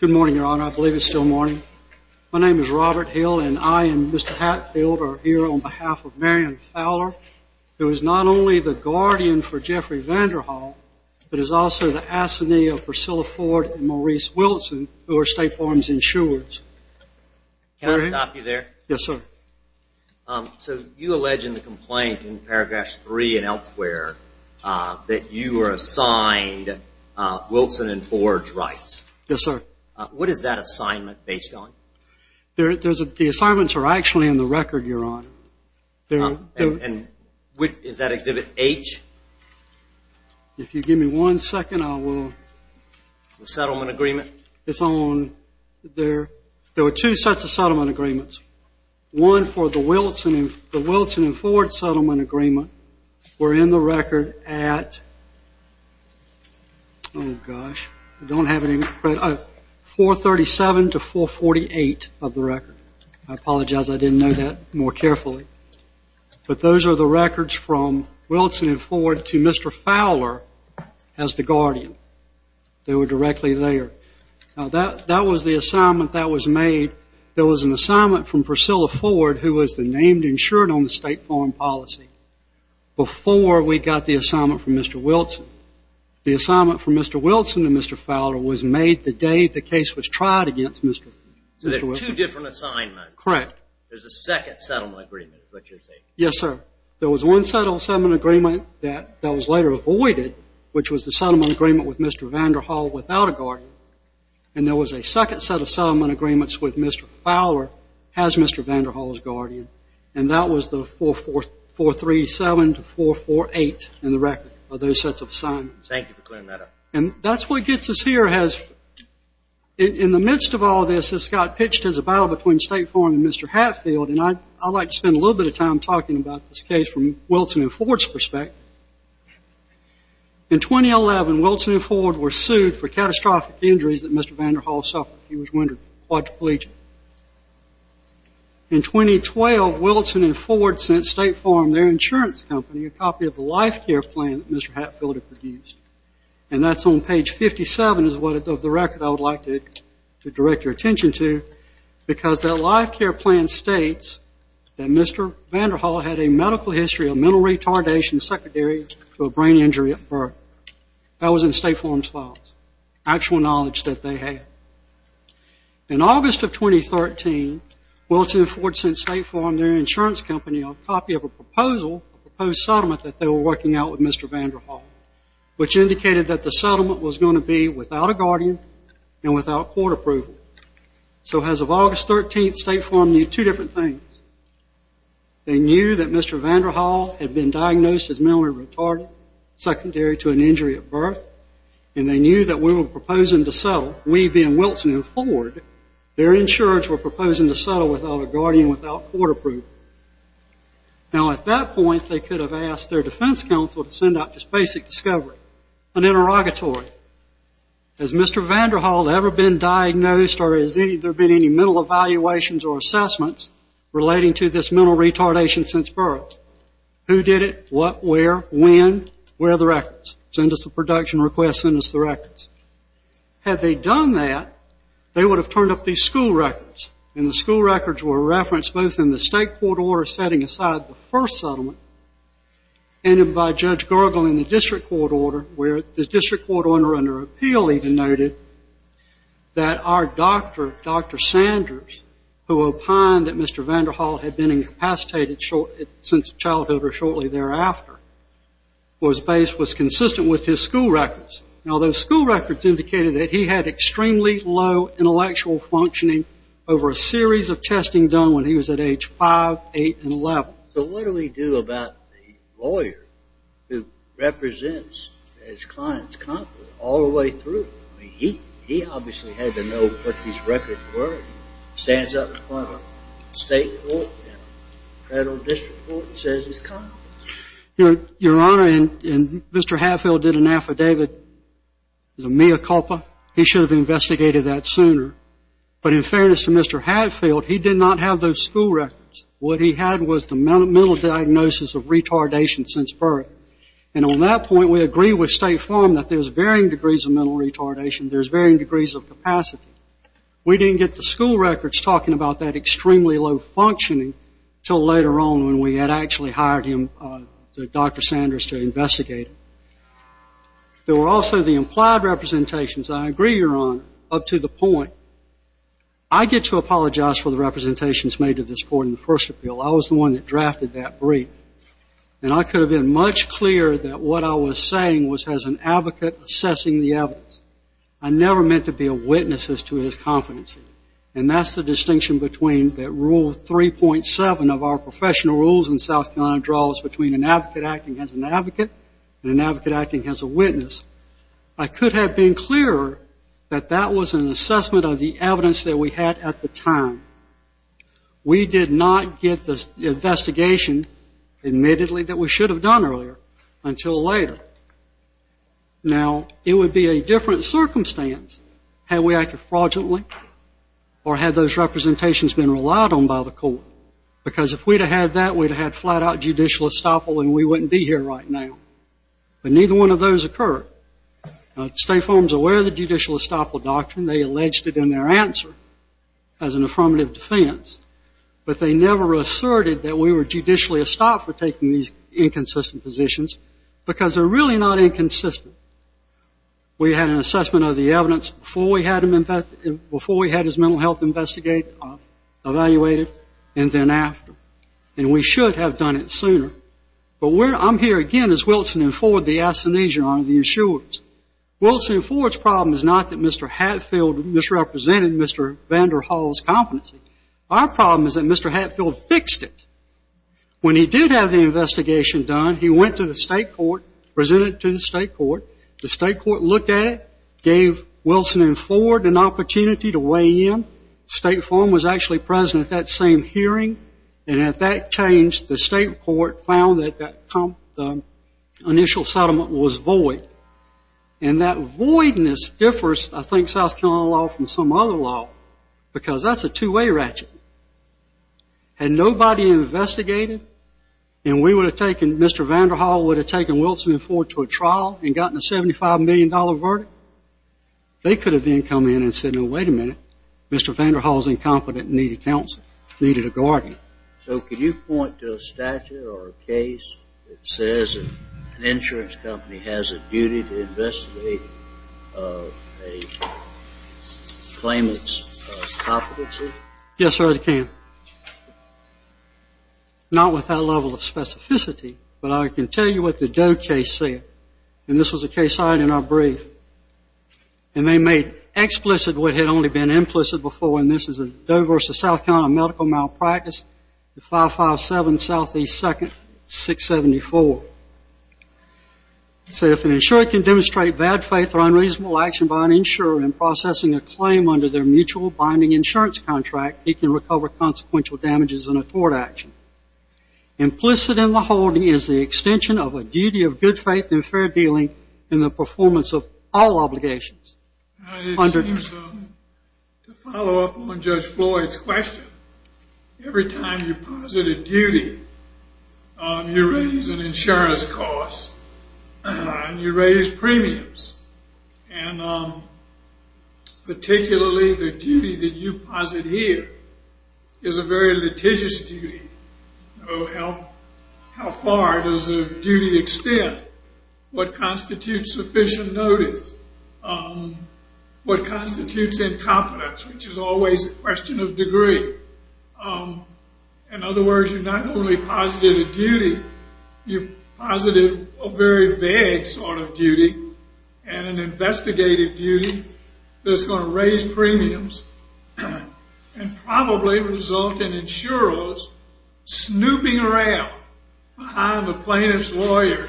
Good morning, Your Honor. I believe it's still morning. My name is Robert Hill, and I and Mr. Hatfield are here on behalf of Marion Fowler, who is not only the guardian for Jeffrey Vanderhaal, but is also the assignee of Priscilla Ford and Maurice Wilson, who are State Farm's insurers. Can I stop you there? Yes, sir. So you allege in the complaint in paragraphs three and elsewhere that you were assigned Wilson and Ford's rights. Yes, sir. What is that assignment based on? The assignments are actually in the record, Your Honor. And is that Exhibit H? If you give me one second, I will... The settlement agreement? There were two sets of settlement agreements. One for the Wilson and Ford settlement agreement were in the record at 437 to 448 of the record. I apologize. I didn't know that more carefully. But those are the records from Wilson and Ford to Mr. Fowler as the guardian. They were directly there. Now, that was the assignment that was made. There was an assignment from Priscilla Ford, who was the named insured on the State Farm policy, before we got the assignment from Mr. Wilson. The assignment from Mr. Wilson to Mr. Fowler was made the day the case was tried against Mr. Wilson. So there are two different assignments. Correct. There's a second settlement agreement, is what you're saying. Yes, sir. There was one settlement agreement that was later avoided, which was the settlement agreement with Mr. Vanderhall without a guardian. And there was a second set of settlement agreements with Mr. Fowler as Mr. Vanderhall's guardian. And that was the 437 to 448 in the record of those sets of assignments. Thank you for clearing that up. And that's what gets us here. In the midst of all this, this got pitched as a battle between State Farm and Mr. Hatfield. And I'd like to spend a little bit of time talking about this case from Wilson and Ford's perspective. In 2011, Wilson and Ford were sued for catastrophic injuries that Mr. Vanderhall suffered. He was wounded, quadriplegic. In 2012, Wilson and Ford sent State Farm, their insurance company, a copy of the life care plan that Mr. Hatfield had produced. And that's on page 57 of the record I would like to direct your attention to, because that life care plan states that Mr. Vanderhall had a medical history of mental retardation, secondary to a brain injury at birth. That was in State Farm's files, actual knowledge that they had. In August of 2013, Wilson and Ford sent State Farm, their insurance company, a copy of a proposal, a proposed settlement that they were working out with Mr. Vanderhall, which indicated that the settlement was going to be without a guardian and without court approval. So as of August 13th, State Farm knew two different things. They knew that Mr. Vanderhall had been diagnosed as mentally retarded, secondary to an injury at birth, and they knew that we were proposing to settle, we being Wilson and Ford, their insurance were proposing to settle without a guardian, without court approval. Now, at that point, they could have asked their defense counsel to send out this basic discovery, an interrogatory. Has Mr. Vanderhall ever been diagnosed or has there been any mental evaluations or assessments relating to this mental retardation since birth? Who did it, what, where, when? Where are the records? Send us the production request, send us the records. Had they done that, they would have turned up these school records, and the school records were referenced both in the state court order setting aside the first settlement and by Judge Gergel in the district court order, where the district court order under appeal even noted that our doctor, Dr. Sanders, who opined that Mr. Vanderhall had been incapacitated since childhood or shortly thereafter, was consistent with his school records. Now, those school records indicated that he had extremely low intellectual functioning over a series of testing done when he was at age 5, 8, and 11. So what do we do about the lawyer who represents his client's conduct all the way through? I mean, he obviously had to know what his records were. He stands up in front of a state court and a federal district court and says he's competent. Your Honor, Mr. Hadfield did an affidavit, a mea culpa. He should have investigated that sooner. But in fairness to Mr. Hadfield, he did not have those school records. What he had was the mental diagnosis of retardation since birth. And on that point, we agree with State Farm that there's varying degrees of mental retardation, there's varying degrees of capacity. We didn't get the school records talking about that extremely low functioning until later on when we had actually hired him, Dr. Sanders, to investigate. There were also the implied representations. I agree, Your Honor, up to the point. I get to apologize for the representations made to this court in the first appeal. I was the one that drafted that brief. And I could have been much clearer that what I was saying was as an advocate assessing the evidence. I never meant to be a witness as to his competency. And that's the distinction between that Rule 3.7 of our professional rules in South Carolina draws between an advocate acting as an advocate and an advocate acting as a witness. I could have been clearer that that was an assessment of the evidence that we had at the time. We did not get the investigation admittedly that we should have done earlier until later. Now, it would be a different circumstance had we acted fraudulently. Or had those representations been relied on by the court. Because if we'd have had that, we'd have had flat-out judicial estoppel and we wouldn't be here right now. But neither one of those occurred. Now, State Farm's aware of the judicial estoppel doctrine. They alleged it in their answer as an affirmative defense. But they never asserted that we were judicially estopped for taking these inconsistent positions because they're really not inconsistent. We had an assessment of the evidence before we had his mental health investigated, evaluated, and then after. And we should have done it sooner. But I'm here again as Wilson and Ford, the astonisher on the insurers. Wilson and Ford's problem is not that Mr. Hatfield misrepresented Mr. Vanderhall's competency. Our problem is that Mr. Hatfield fixed it. When he did have the investigation done, he went to the state court, presented it to the state court. The state court looked at it, gave Wilson and Ford an opportunity to weigh in. State Farm was actually present at that same hearing. And at that change, the state court found that the initial settlement was void. And that voidness differs, I think, South Carolina law from some other law because that's a two-way ratchet. Had nobody investigated and we would have taken Mr. Vanderhall, would have taken Wilson and Ford to a trial and gotten a $75 million verdict, they could have then come in and said, no, wait a minute, Mr. Vanderhall's incompetent and needed counsel, needed a guardian. So can you point to a statute or a case that says an insurance company has a duty to investigate a claimant's competency? Yes, sir, I can. Not with that level of specificity, but I can tell you what the Doe case said. And this was a case I had in our brief. And they made explicit what had only been implicit before, and this is a Doe versus South Carolina medical malpractice, 557 Southeast 2nd, 674. They said if an insurer can demonstrate bad faith or unreasonable action by an insurer in processing a claim under their mutual binding insurance contract, he can recover consequential damages in a tort action. Implicit in the holding is the extension of a duty of good faith and fair dealing in the performance of all obligations. It seems to follow up on Judge Floyd's question. Every time you posit a duty, you raise an insurance cost and you raise premiums. And particularly the duty that you posit here is a very litigious duty. How far does a duty extend? What constitutes sufficient notice? What constitutes incompetence, which is always a question of degree? In other words, you've not only posited a duty, you've posited a very vague sort of duty, and an investigative duty that's going to raise premiums and probably result in insurers snooping around behind the plaintiff's lawyer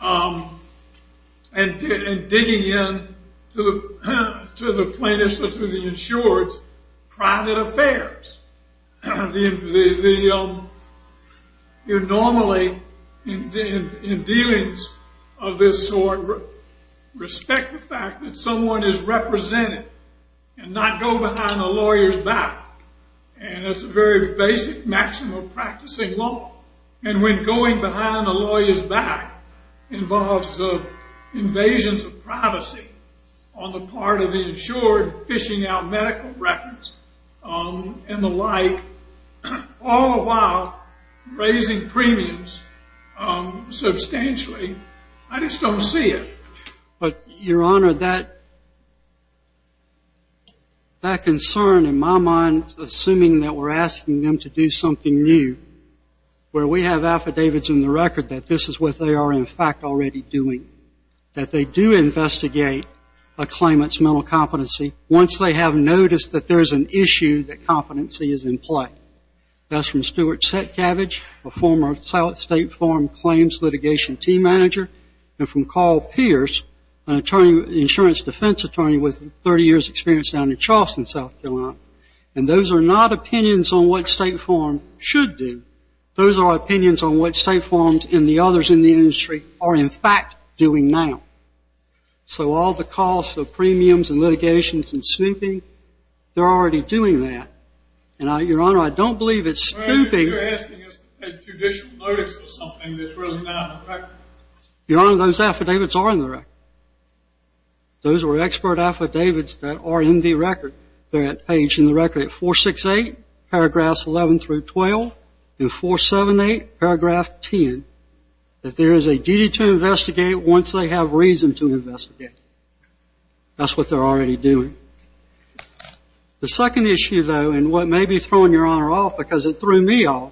and digging in to the plaintiff's or to the insurer's private affairs. You normally, in dealings of this sort, respect the fact that someone is represented and not go behind a lawyer's back. And it's a very basic maximum practicing law. And when going behind a lawyer's back involves invasions of privacy on the part of the insured fishing out medical records and the like, all the while raising premiums substantially, I just don't see it. But, Your Honor, that concern in my mind, assuming that we're asking them to do something new, where we have affidavits in the record that this is what they are, in fact, already doing, that they do investigate a claimant's mental competency once they have noticed that there's an issue that competency is in play. That's from Stuart Setcavage, a former South State Farm Claims Litigation Team Manager, and from Carl Pierce, an insurance defense attorney with 30 years' experience down in Charleston, South Carolina. And those are not opinions on what State Farm should do. Those are opinions on what State Farms and the others in the industry are, in fact, doing now. So all the calls for premiums and litigations and snooping, they're already doing that. And, Your Honor, I don't believe it's snooping. You're asking us to take judicial notice of something that's really not in the record. Your Honor, those affidavits are in the record. Those are expert affidavits that are in the record. They're paged in the record at 468, paragraphs 11 through 12, and 478, paragraph 10, that there is a duty to investigate once they have reason to investigate. That's what they're already doing. The second issue, though, and what may be throwing Your Honor off because it threw me off,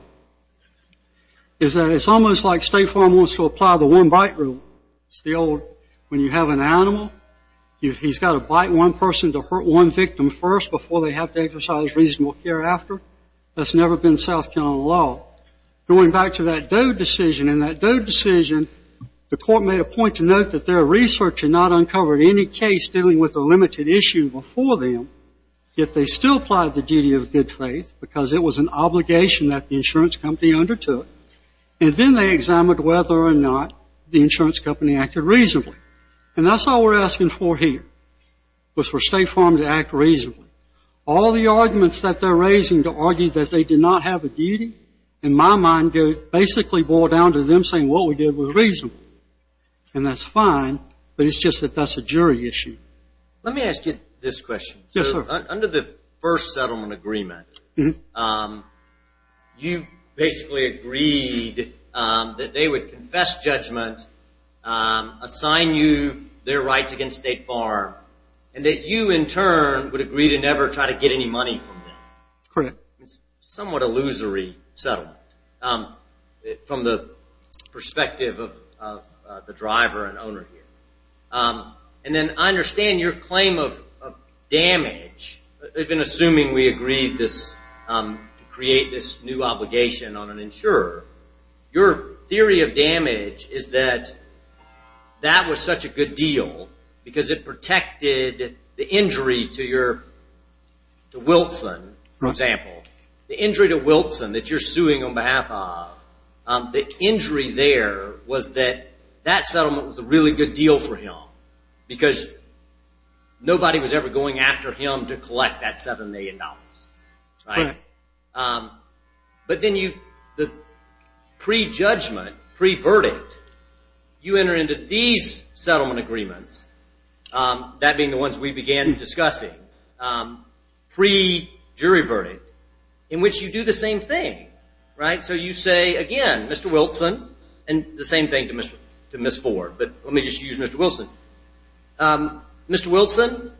is that it's almost like State Farm wants to apply the one-bite rule. It's the old, when you have an animal, he's got to bite one person to hurt one victim first before they have to exercise reasonable care after. That's never been South Carolina law. Going back to that Doe decision, in that Doe decision, the court made a point to note that their research had not uncovered any case dealing with a limited issue before them, yet they still applied the duty of good faith because it was an obligation that the insurance company undertook. And then they examined whether or not the insurance company acted reasonably. And that's all we're asking for here, was for State Farm to act reasonably. All the arguments that they're raising to argue that they did not have a duty, in my mind, basically boil down to them saying what we did was reasonable. And that's fine, but it's just that that's a jury issue. Let me ask you this question. Under the first settlement agreement, you basically agreed that they would confess judgment, assign you their rights against State Farm, and that you, in turn, would agree to never try to get any money from them. Correct. It's a somewhat illusory settlement from the perspective of the driver and owner here. And then I understand your claim of damage, even assuming we agreed to create this new obligation on an insurer. Your theory of damage is that that was such a good deal because it protected the injury to your, to Wilson, for example, the injury to Wilson that you're suing on behalf of, the injury there was that that settlement was a really good deal for him because nobody was ever going after him to collect that $7 million. But then the prejudgment, pre-verdict, you enter into these settlement agreements, that being the ones we began discussing, pre-jury verdict, in which you do the same thing, right? So you say, again, Mr. Wilson, and the same thing to Ms. Ford, but let me just use Mr. Wilson. Mr. Wilson,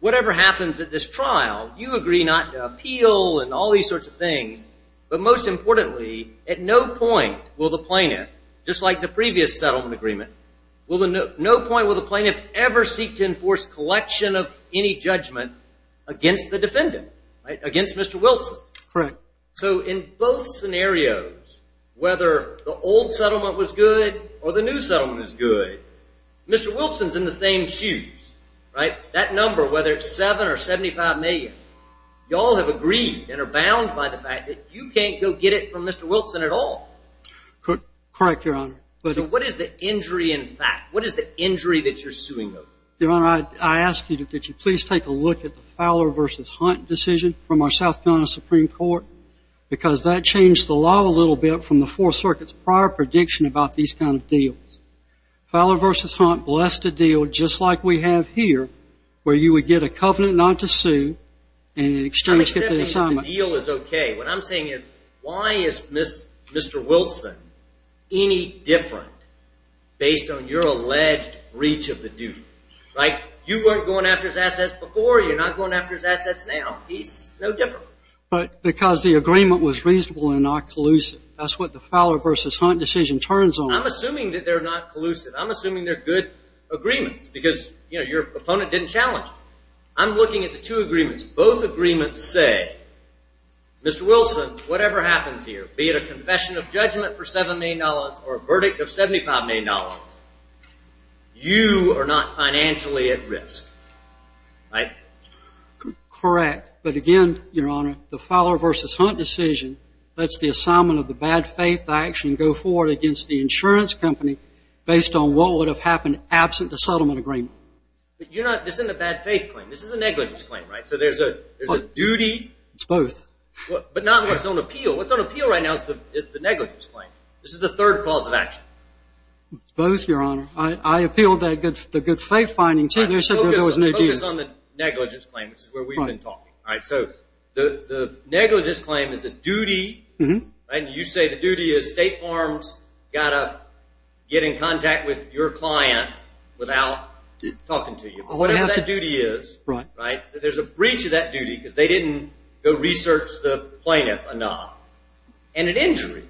whatever happens at this trial, you agree not to appeal and all these sorts of things, but most importantly, at no point will the plaintiff, just like the previous settlement agreement, will the, no point will the plaintiff ever seek to enforce collection of any judgment against the defendant, against Mr. Wilson. Correct. So in both scenarios, whether the old settlement was good or the new settlement was good, Mr. Wilson's in the same shoes, right? That number, whether it's $7 or $75 million, you all have agreed and are bound by the fact that you can't go get it from Mr. Wilson at all. Correct, Your Honor. So what is the injury in fact? What is the injury that you're suing them? Your Honor, I ask you that you please take a look at the Fowler v. Hunt decision from our South Carolina Supreme Court, because that changed the law a little bit from the Fourth Circuit's prior prediction about these kind of deals. Fowler v. Hunt blessed a deal just like we have here, where you would get a covenant not to sue in exchange for the assignment. I'm accepting that the deal is okay. What I'm saying is why is Mr. Wilson any different based on your alleged breach of the duty, right? You weren't going after his assets before. You're not going after his assets now. He's no different. But because the agreement was reasonable and not collusive. That's what the Fowler v. Hunt decision turns on. I'm assuming that they're not collusive. I'm assuming they're good agreements because, you know, your opponent didn't challenge it. I'm looking at the two agreements. Both agreements say, Mr. Wilson, whatever happens here, be it a confession of judgment for $7 million or a verdict of $75 million, you are not financially at risk, right? Correct. But again, Your Honor, the Fowler v. Hunt decision lets the assignment of the bad faith action go forward against the insurance company based on what would have happened absent the settlement agreement. But you're not – this isn't a bad faith claim. This is a negligence claim, right? So there's a duty. It's both. But not what's on appeal. What's on appeal right now is the negligence claim. This is the third cause of action. Both, Your Honor. I appealed the good faith finding, too. There was no deal. Focus on the negligence claim, which is where we've been talking. All right, so the negligence claim is a duty, right? And you say the duty is State Farms got to get in contact with your client without talking to you. Whatever that duty is, right, there's a breach of that duty because they didn't go research the plaintiff enough. And an injury,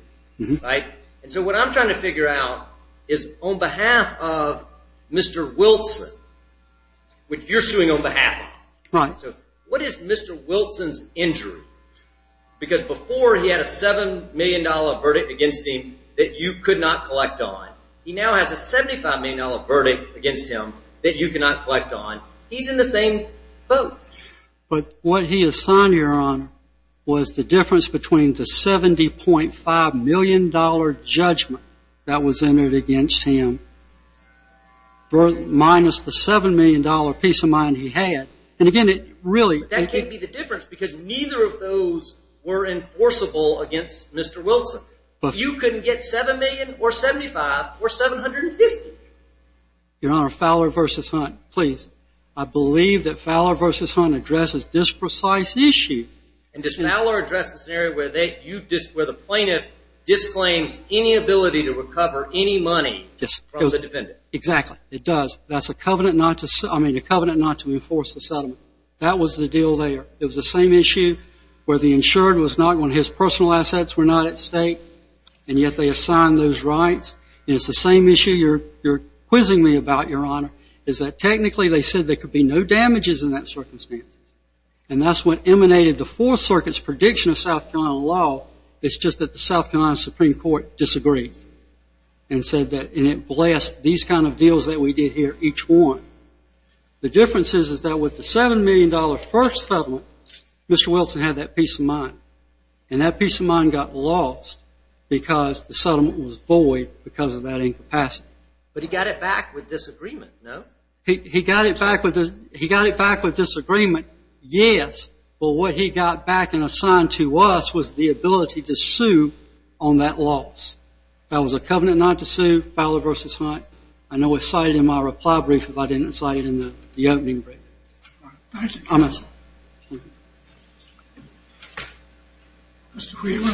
right? And so what I'm trying to figure out is on behalf of Mr. Wilson, which you're suing on behalf of, what is Mr. Wilson's injury? Because before he had a $7 million verdict against him that you could not collect on. He now has a $75 million verdict against him that you cannot collect on. He's in the same boat. But what he assigned, Your Honor, was the difference between the $70.5 million judgment that was entered against him minus the $7 million peace of mind he had. And, again, it really – That can't be the difference because neither of those were enforceable against Mr. Wilson. You couldn't get $7 million or $75 or $750. Your Honor, Fowler v. Hunt, please. I believe that Fowler v. Hunt addresses this precise issue. And does Fowler address the scenario where the plaintiff disclaims any ability to recover any money from the defendant? Exactly. It does. That's a covenant not to – I mean a covenant not to enforce the settlement. That was the deal there. It was the same issue where the insured was not – when his personal assets were not at stake, and yet they assigned those rights. And it's the same issue you're quizzing me about, Your Honor, is that technically they said there could be no damages in that circumstance. And that's what emanated the Fourth Circuit's prediction of South Carolina law. It's just that the South Carolina Supreme Court disagreed and said that – and it blessed these kind of deals that we did here, each one. The difference is that with the $7 million first settlement, Mr. Wilson had that peace of mind. And that peace of mind got lost because the settlement was void because of that incapacity. But he got it back with disagreement, no? He got it back with disagreement, yes. But what he got back and assigned to us was the ability to sue on that loss. That was a covenant not to sue, Fowler v. Hunt. I know it's cited in my reply brief, but I didn't cite it in the opening brief. Thank you. Mr. Quigley.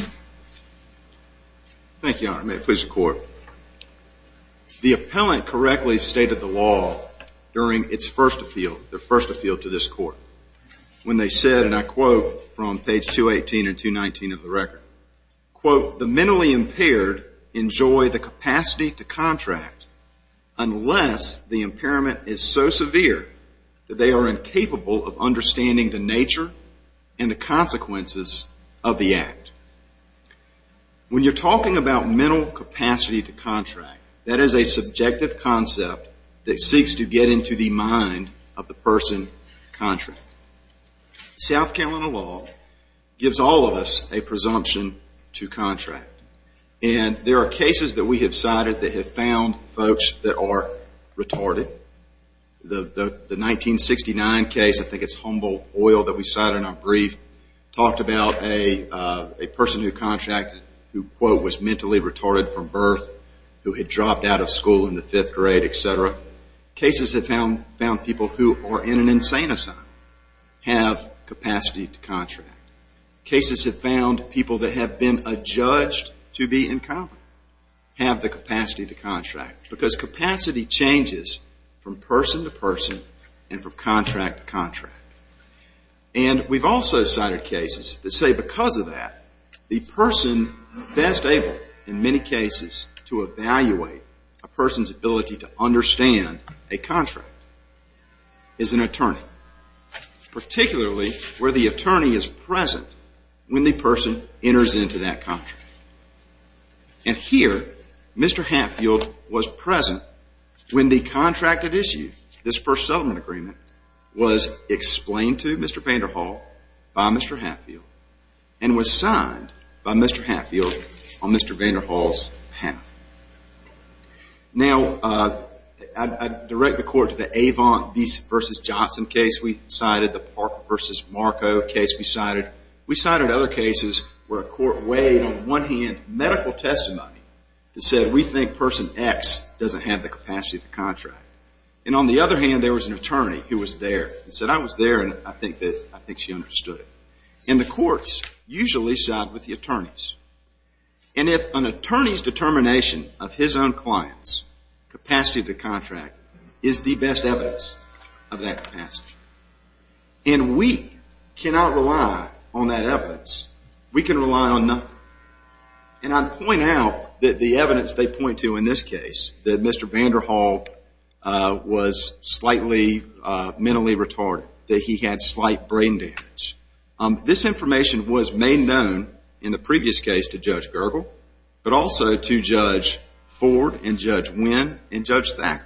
Thank you, Your Honor. May it please the Court. The appellant correctly stated the law during its first appeal, their first appeal to this Court, when they said, and I quote from page 218 and 219 of the record, quote, When you're talking about mental capacity to contract, that is a subjective concept that seeks to get into the mind of the person contracting. South Carolina law gives all of us a presumption to contract. And there are cases that we have cited that have found folks that are retarded. The 1969 case, I think it's Humboldt Oil that we cited in our brief, talked about a person who contracted who, quote, who was mentally retarded from birth, who had dropped out of school in the fifth grade, etc. Cases have found people who are in an insane asylum have capacity to contract. Cases have found people that have been adjudged to be incompetent have the capacity to contract. Because capacity changes from person to person and from contract to contract. And we've also cited cases that say because of that, the person best able in many cases to evaluate a person's ability to understand a contract is an attorney, particularly where the attorney is present when the person enters into that contract. And here, Mr. Hatfield was present when the contracted issue, this first settlement agreement, was explained to Mr. Vanderhall by Mr. Hatfield and was signed by Mr. Hatfield on Mr. Vanderhall's half. Now, I direct the court to the Avant v. Johnson case we cited, the Parker v. Marco case we cited. We cited other cases where a court weighed on one hand medical testimony that said we think person X doesn't have the capacity to contract. And on the other hand, there was an attorney who was there and said I was there and I think she understood it. And the courts usually side with the attorneys. And if an attorney's determination of his own client's capacity to contract is the best evidence of that capacity, and we cannot rely on that evidence, we can rely on nothing. And I point out that the evidence they point to in this case, that Mr. Vanderhall was slightly mentally retarded, that he had slight brain damage. This information was made known in the previous case to Judge Gergel, but also to Judge Ford and Judge Winn and Judge Thacker.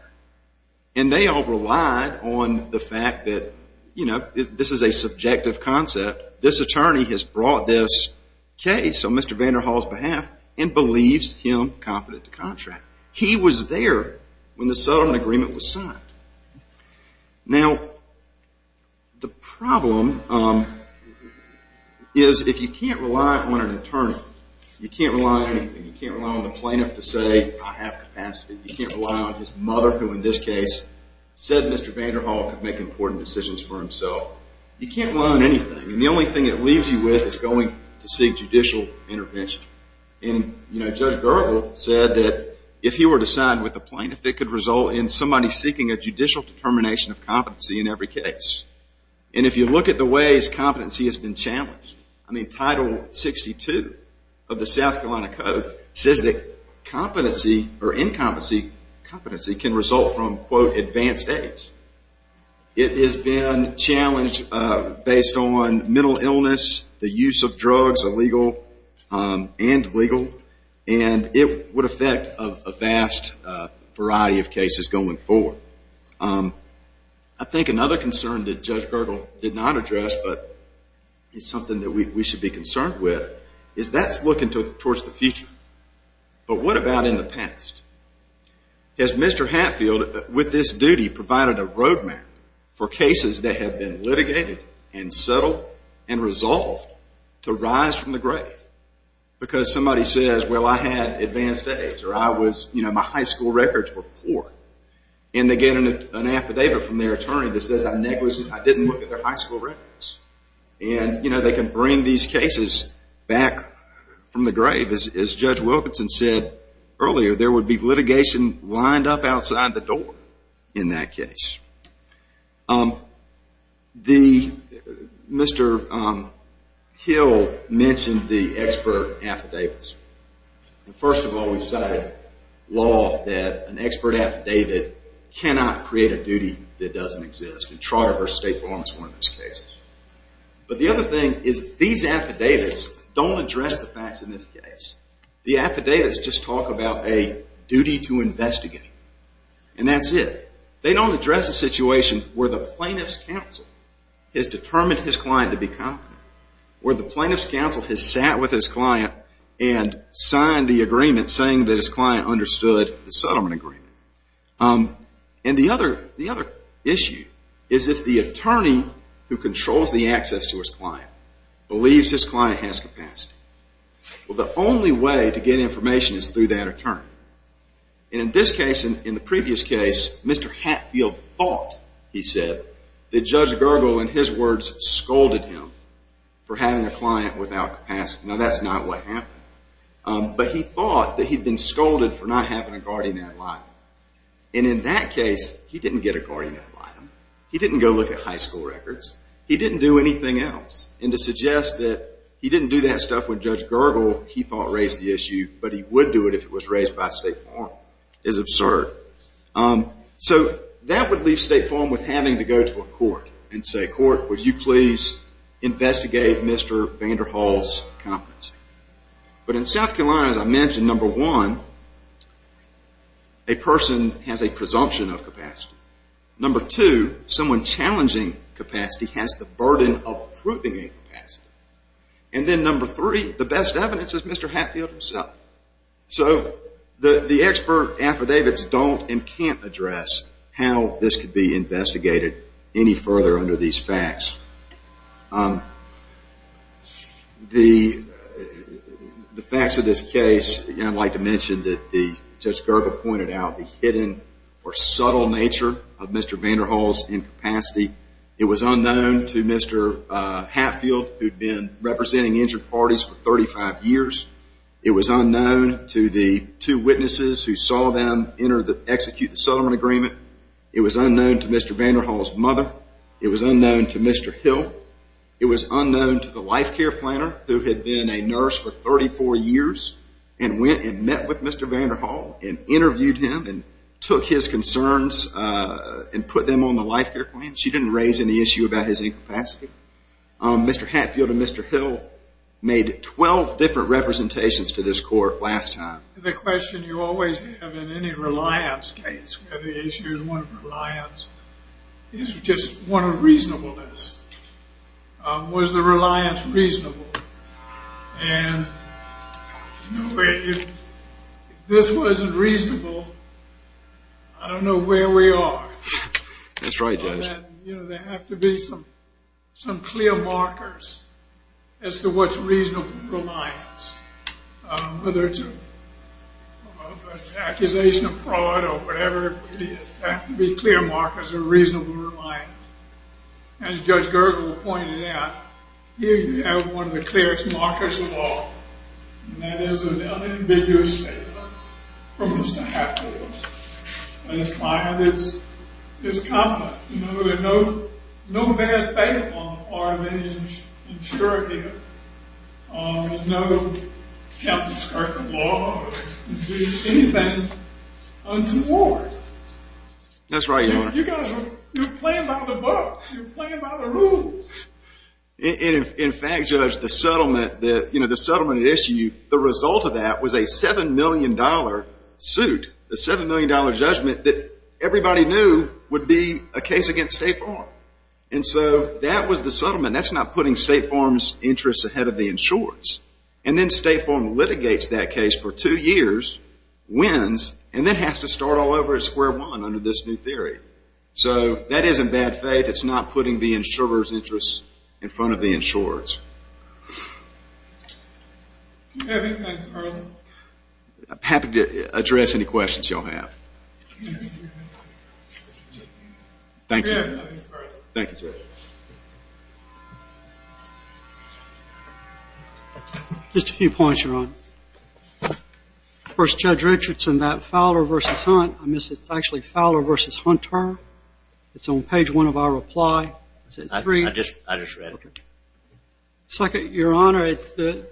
And they all relied on the fact that, you know, this is a subjective concept. This attorney has brought this case on Mr. Vanderhall's behalf and believes him competent to contract. He was there when the settlement agreement was signed. Now, the problem is if you can't rely on an attorney, you can't rely on anything. You can't rely on the plaintiff to say I have capacity. You can't rely on his mother, who in this case said Mr. Vanderhall could make important decisions for himself. You can't rely on anything. And the only thing it leaves you with is going to seek judicial intervention. And, you know, Judge Gergel said that if he were to sign with the plaintiff, it could result in somebody seeking a judicial determination of competency in every case. And if you look at the ways competency has been challenged, I mean, Title 62 of the South Carolina Code says that competency or incompetency can result from, quote, advanced age. It has been challenged based on mental illness, the use of drugs, illegal and legal, and it would affect a vast variety of cases going forward. I think another concern that Judge Gergel did not address but is something that we should be concerned with is that's looking towards the future. But what about in the past? Has Mr. Hatfield, with this duty, provided a road map for cases that have been litigated and settled and resolved to rise from the grave? Because somebody says, well, I had advanced age or I was, you know, my high school records were poor. And they get an affidavit from their attorney that says I didn't look at their high school records. And, you know, they can bring these cases back from the grave. As Judge Wilkinson said earlier, there would be litigation lined up outside the door in that case. Mr. Hill mentioned the expert affidavits. First of all, we've set a law that an expert affidavit cannot create a duty that doesn't exist. And Trotter v. State Farm is one of those cases. But the other thing is these affidavits don't address the facts in this case. The affidavits just talk about a duty to investigate. And that's it. They don't address a situation where the plaintiff's counsel has determined his client to be competent, where the plaintiff's counsel has sat with his client and signed the agreement saying that his client understood the settlement agreement. And the other issue is if the attorney who controls the access to his client believes his client has capacity. Well, the only way to get information is through that attorney. And in this case and in the previous case, Mr. Hatfield thought, he said, that Judge Gergel, in his words, scolded him for having a client without capacity. Now, that's not what happened. But he thought that he'd been scolded for not having a guardian ad litem. And in that case, he didn't get a guardian ad litem. He didn't go look at high school records. He didn't do anything else. And to suggest that he didn't do that stuff when Judge Gergel, he thought, raised the issue, but he would do it if it was raised by State Farm is absurd. So that would leave State Farm with having to go to a court and say, would you please investigate Mr. Vander Hall's competency? But in South Carolina, as I mentioned, number one, a person has a presumption of capacity. Number two, someone challenging capacity has the burden of proving a capacity. And then number three, the best evidence is Mr. Hatfield himself. So the expert affidavits don't and can't address how this could be investigated any further under these facts. The facts of this case, I'd like to mention that Judge Gergel pointed out the hidden or subtle nature of Mr. Vander Hall's incapacity. It was unknown to Mr. Hatfield, who'd been representing injured parties for 35 years. It was unknown to the two witnesses who saw them execute the settlement agreement. It was unknown to Mr. Vander Hall's mother. It was unknown to Mr. Hill. It was unknown to the life care planner, who had been a nurse for 34 years and went and met with Mr. Vander Hall and interviewed him and took his concerns and put them on the life care plan. She didn't raise any issue about his incapacity. Mr. Hatfield and Mr. Hill made 12 different representations to this court last time. The question you always have in any reliance case, whether the issue is one of reliance, is just one of reasonableness. Was the reliance reasonable? And if this wasn't reasonable, I don't know where we are. That's right, Judge. There have to be some clear markers as to what's reasonable reliance. Whether it's an accusation of fraud or whatever it is, there have to be clear markers of reasonable reliance. As Judge Gergel pointed out, here you have one of the clearest markers of all, and that is an unambiguous statement from Mr. Hatfield. And his client is confident. There's no bad faith on the part of any insurer here. There's no cap to skirt the law or do anything untoward. That's right, Your Honor. You guys are playing by the book. You're playing by the rules. In fact, Judge, the settlement issue, the result of that was a $7 million suit, a $7 million judgment that everybody knew would be a case against State Farm. And so that was the settlement. That's not putting State Farm's interests ahead of the insurer's. And then State Farm litigates that case for two years, wins, and then has to start all over at square one under this new theory. So that is in bad faith. It's not putting the insurer's interests in front of the insurer's. Thanks, Carl. I'm happy to address any questions you all have. Thank you. Thank you, Judge. Just a few points, Your Honor. First, Judge Richardson, that Fowler v. Hunt, I missed it. It's actually Fowler v. Hunter. It's on page one of our reply. Is it three? I just read it. Second, Your Honor, the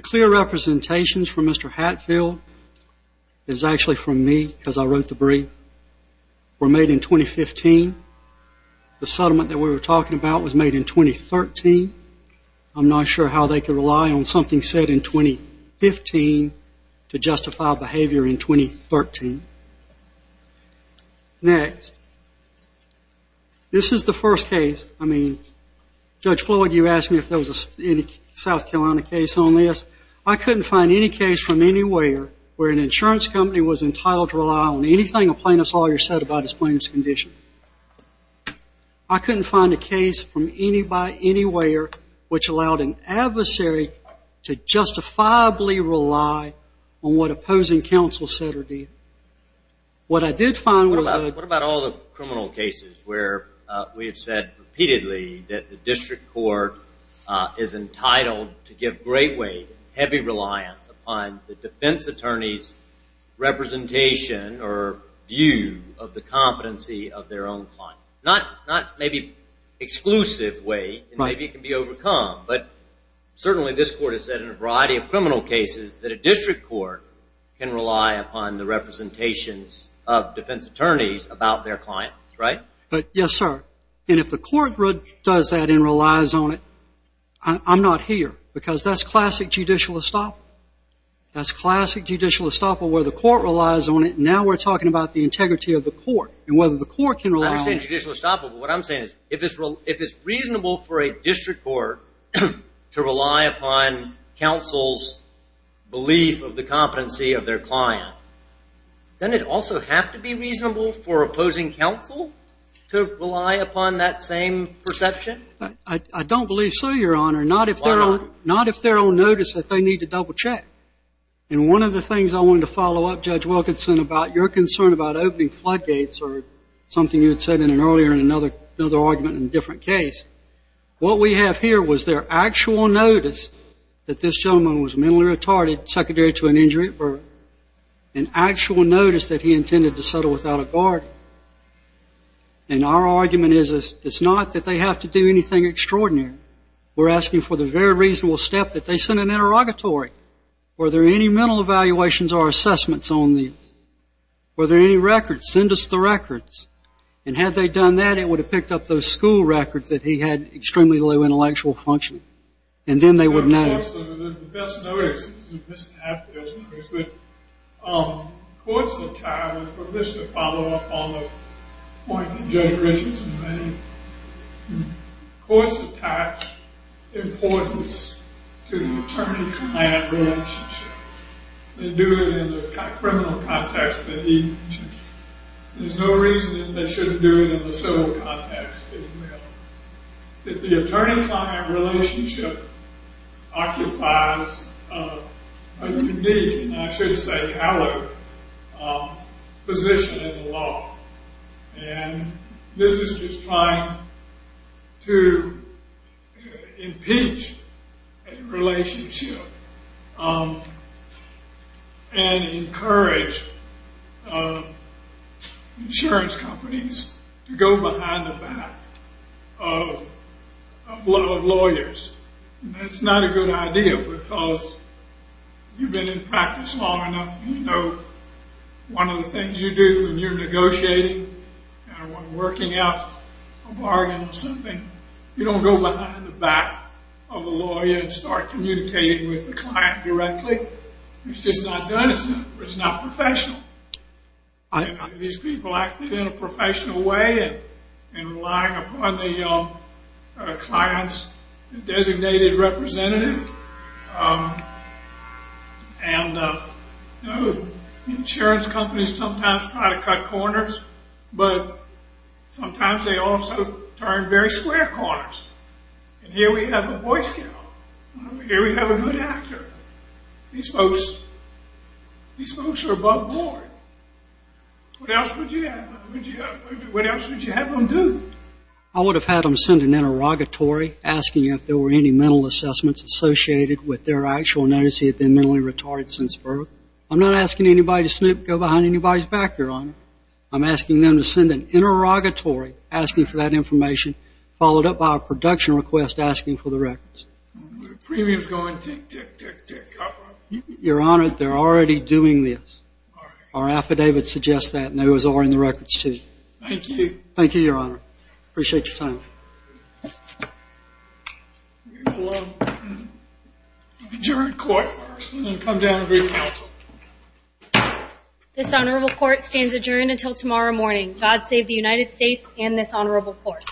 clear representations from Mr. Hatfield is actually from me because I wrote the brief, were made in 2015. The settlement that we were talking about was made in 2013. I'm not sure how they could rely on something said in 2015 to justify behavior in 2013. Next, this is the first case. I mean, Judge Floyd, you asked me if there was a South Carolina case on this. I couldn't find any case from anywhere where an insurance company was entitled to rely on anything a plaintiff's lawyer said about his plaintiff's condition. I couldn't find a case from anywhere which allowed an adversary to justifiably rely on what opposing counsel said or did. What I did find was that- What about all the criminal cases where we have said repeatedly that the district court is entitled to give great weight and heavy reliance upon the defense attorney's representation or view of the competency of their own client. Not maybe exclusive weight, and maybe it can be overcome, but certainly this court has said in a variety of criminal cases that a district court can rely upon the representations of defense attorneys about their clients, right? Yes, sir. And if the court does that and relies on it, I'm not here, because that's classic judicial estoppel. That's classic judicial estoppel where the court relies on it, and now we're talking about the integrity of the court and whether the court can rely on it. I understand judicial estoppel, but what I'm saying is if it's reasonable for a district court to rely upon counsel's belief of the perception? I don't believe so, Your Honor. Why not? Not if they're on notice that they need to double check. And one of the things I wanted to follow up, Judge Wilkinson, about your concern about opening floodgates or something you had said earlier in another argument in a different case, what we have here was their actual notice that this gentleman was mentally retarded, secondary to an injury, or an actual notice that he intended to settle without a guard. And our argument is it's not that they have to do anything extraordinary. We're asking for the very reasonable step that they send an interrogatory. Were there any mental evaluations or assessments on these? Were there any records? Send us the records. And had they done that, it would have picked up those school records that he had extremely low intellectual function. And then they would know. The best notice is that courts attach importance to attorney-client relationship. They do it in the criminal context that he mentioned. There's no reason that they shouldn't do it in the civil context as well. The attorney-client relationship occupies a unique, and I should say hallowed, position in the law. And this is just trying to impinge a relationship and encourage insurance companies to go behind the back of lawyers. That's not a good idea because you've been in practice long enough One of the things you do when you're negotiating and working out a bargain or something, you don't go behind the back of a lawyer and start communicating with the client directly. It's just not done. It's not professional. These people acted in a professional way in relying upon the client's designated representative. And insurance companies sometimes try to cut corners, but sometimes they also turn very square corners. And here we have a boy scout. Here we have a good actor. These folks are above board. What else would you have them do? I would have had them send an interrogatory asking if there were any mental assessments associated with their actual notice that they've been mentally retarded since birth. I'm not asking anybody to snoop, go behind anybody's back, Your Honor. I'm asking them to send an interrogatory asking for that information, followed up by a production request asking for the records. Your Honor, they're already doing this. Our affidavit suggests that, and it was already in the records, too. Thank you. Thank you, Your Honor. Appreciate your time. Adjourned court. I'm going to come down and bring counsel. This honorable court stands adjourned until tomorrow morning. God save the United States and this honorable court.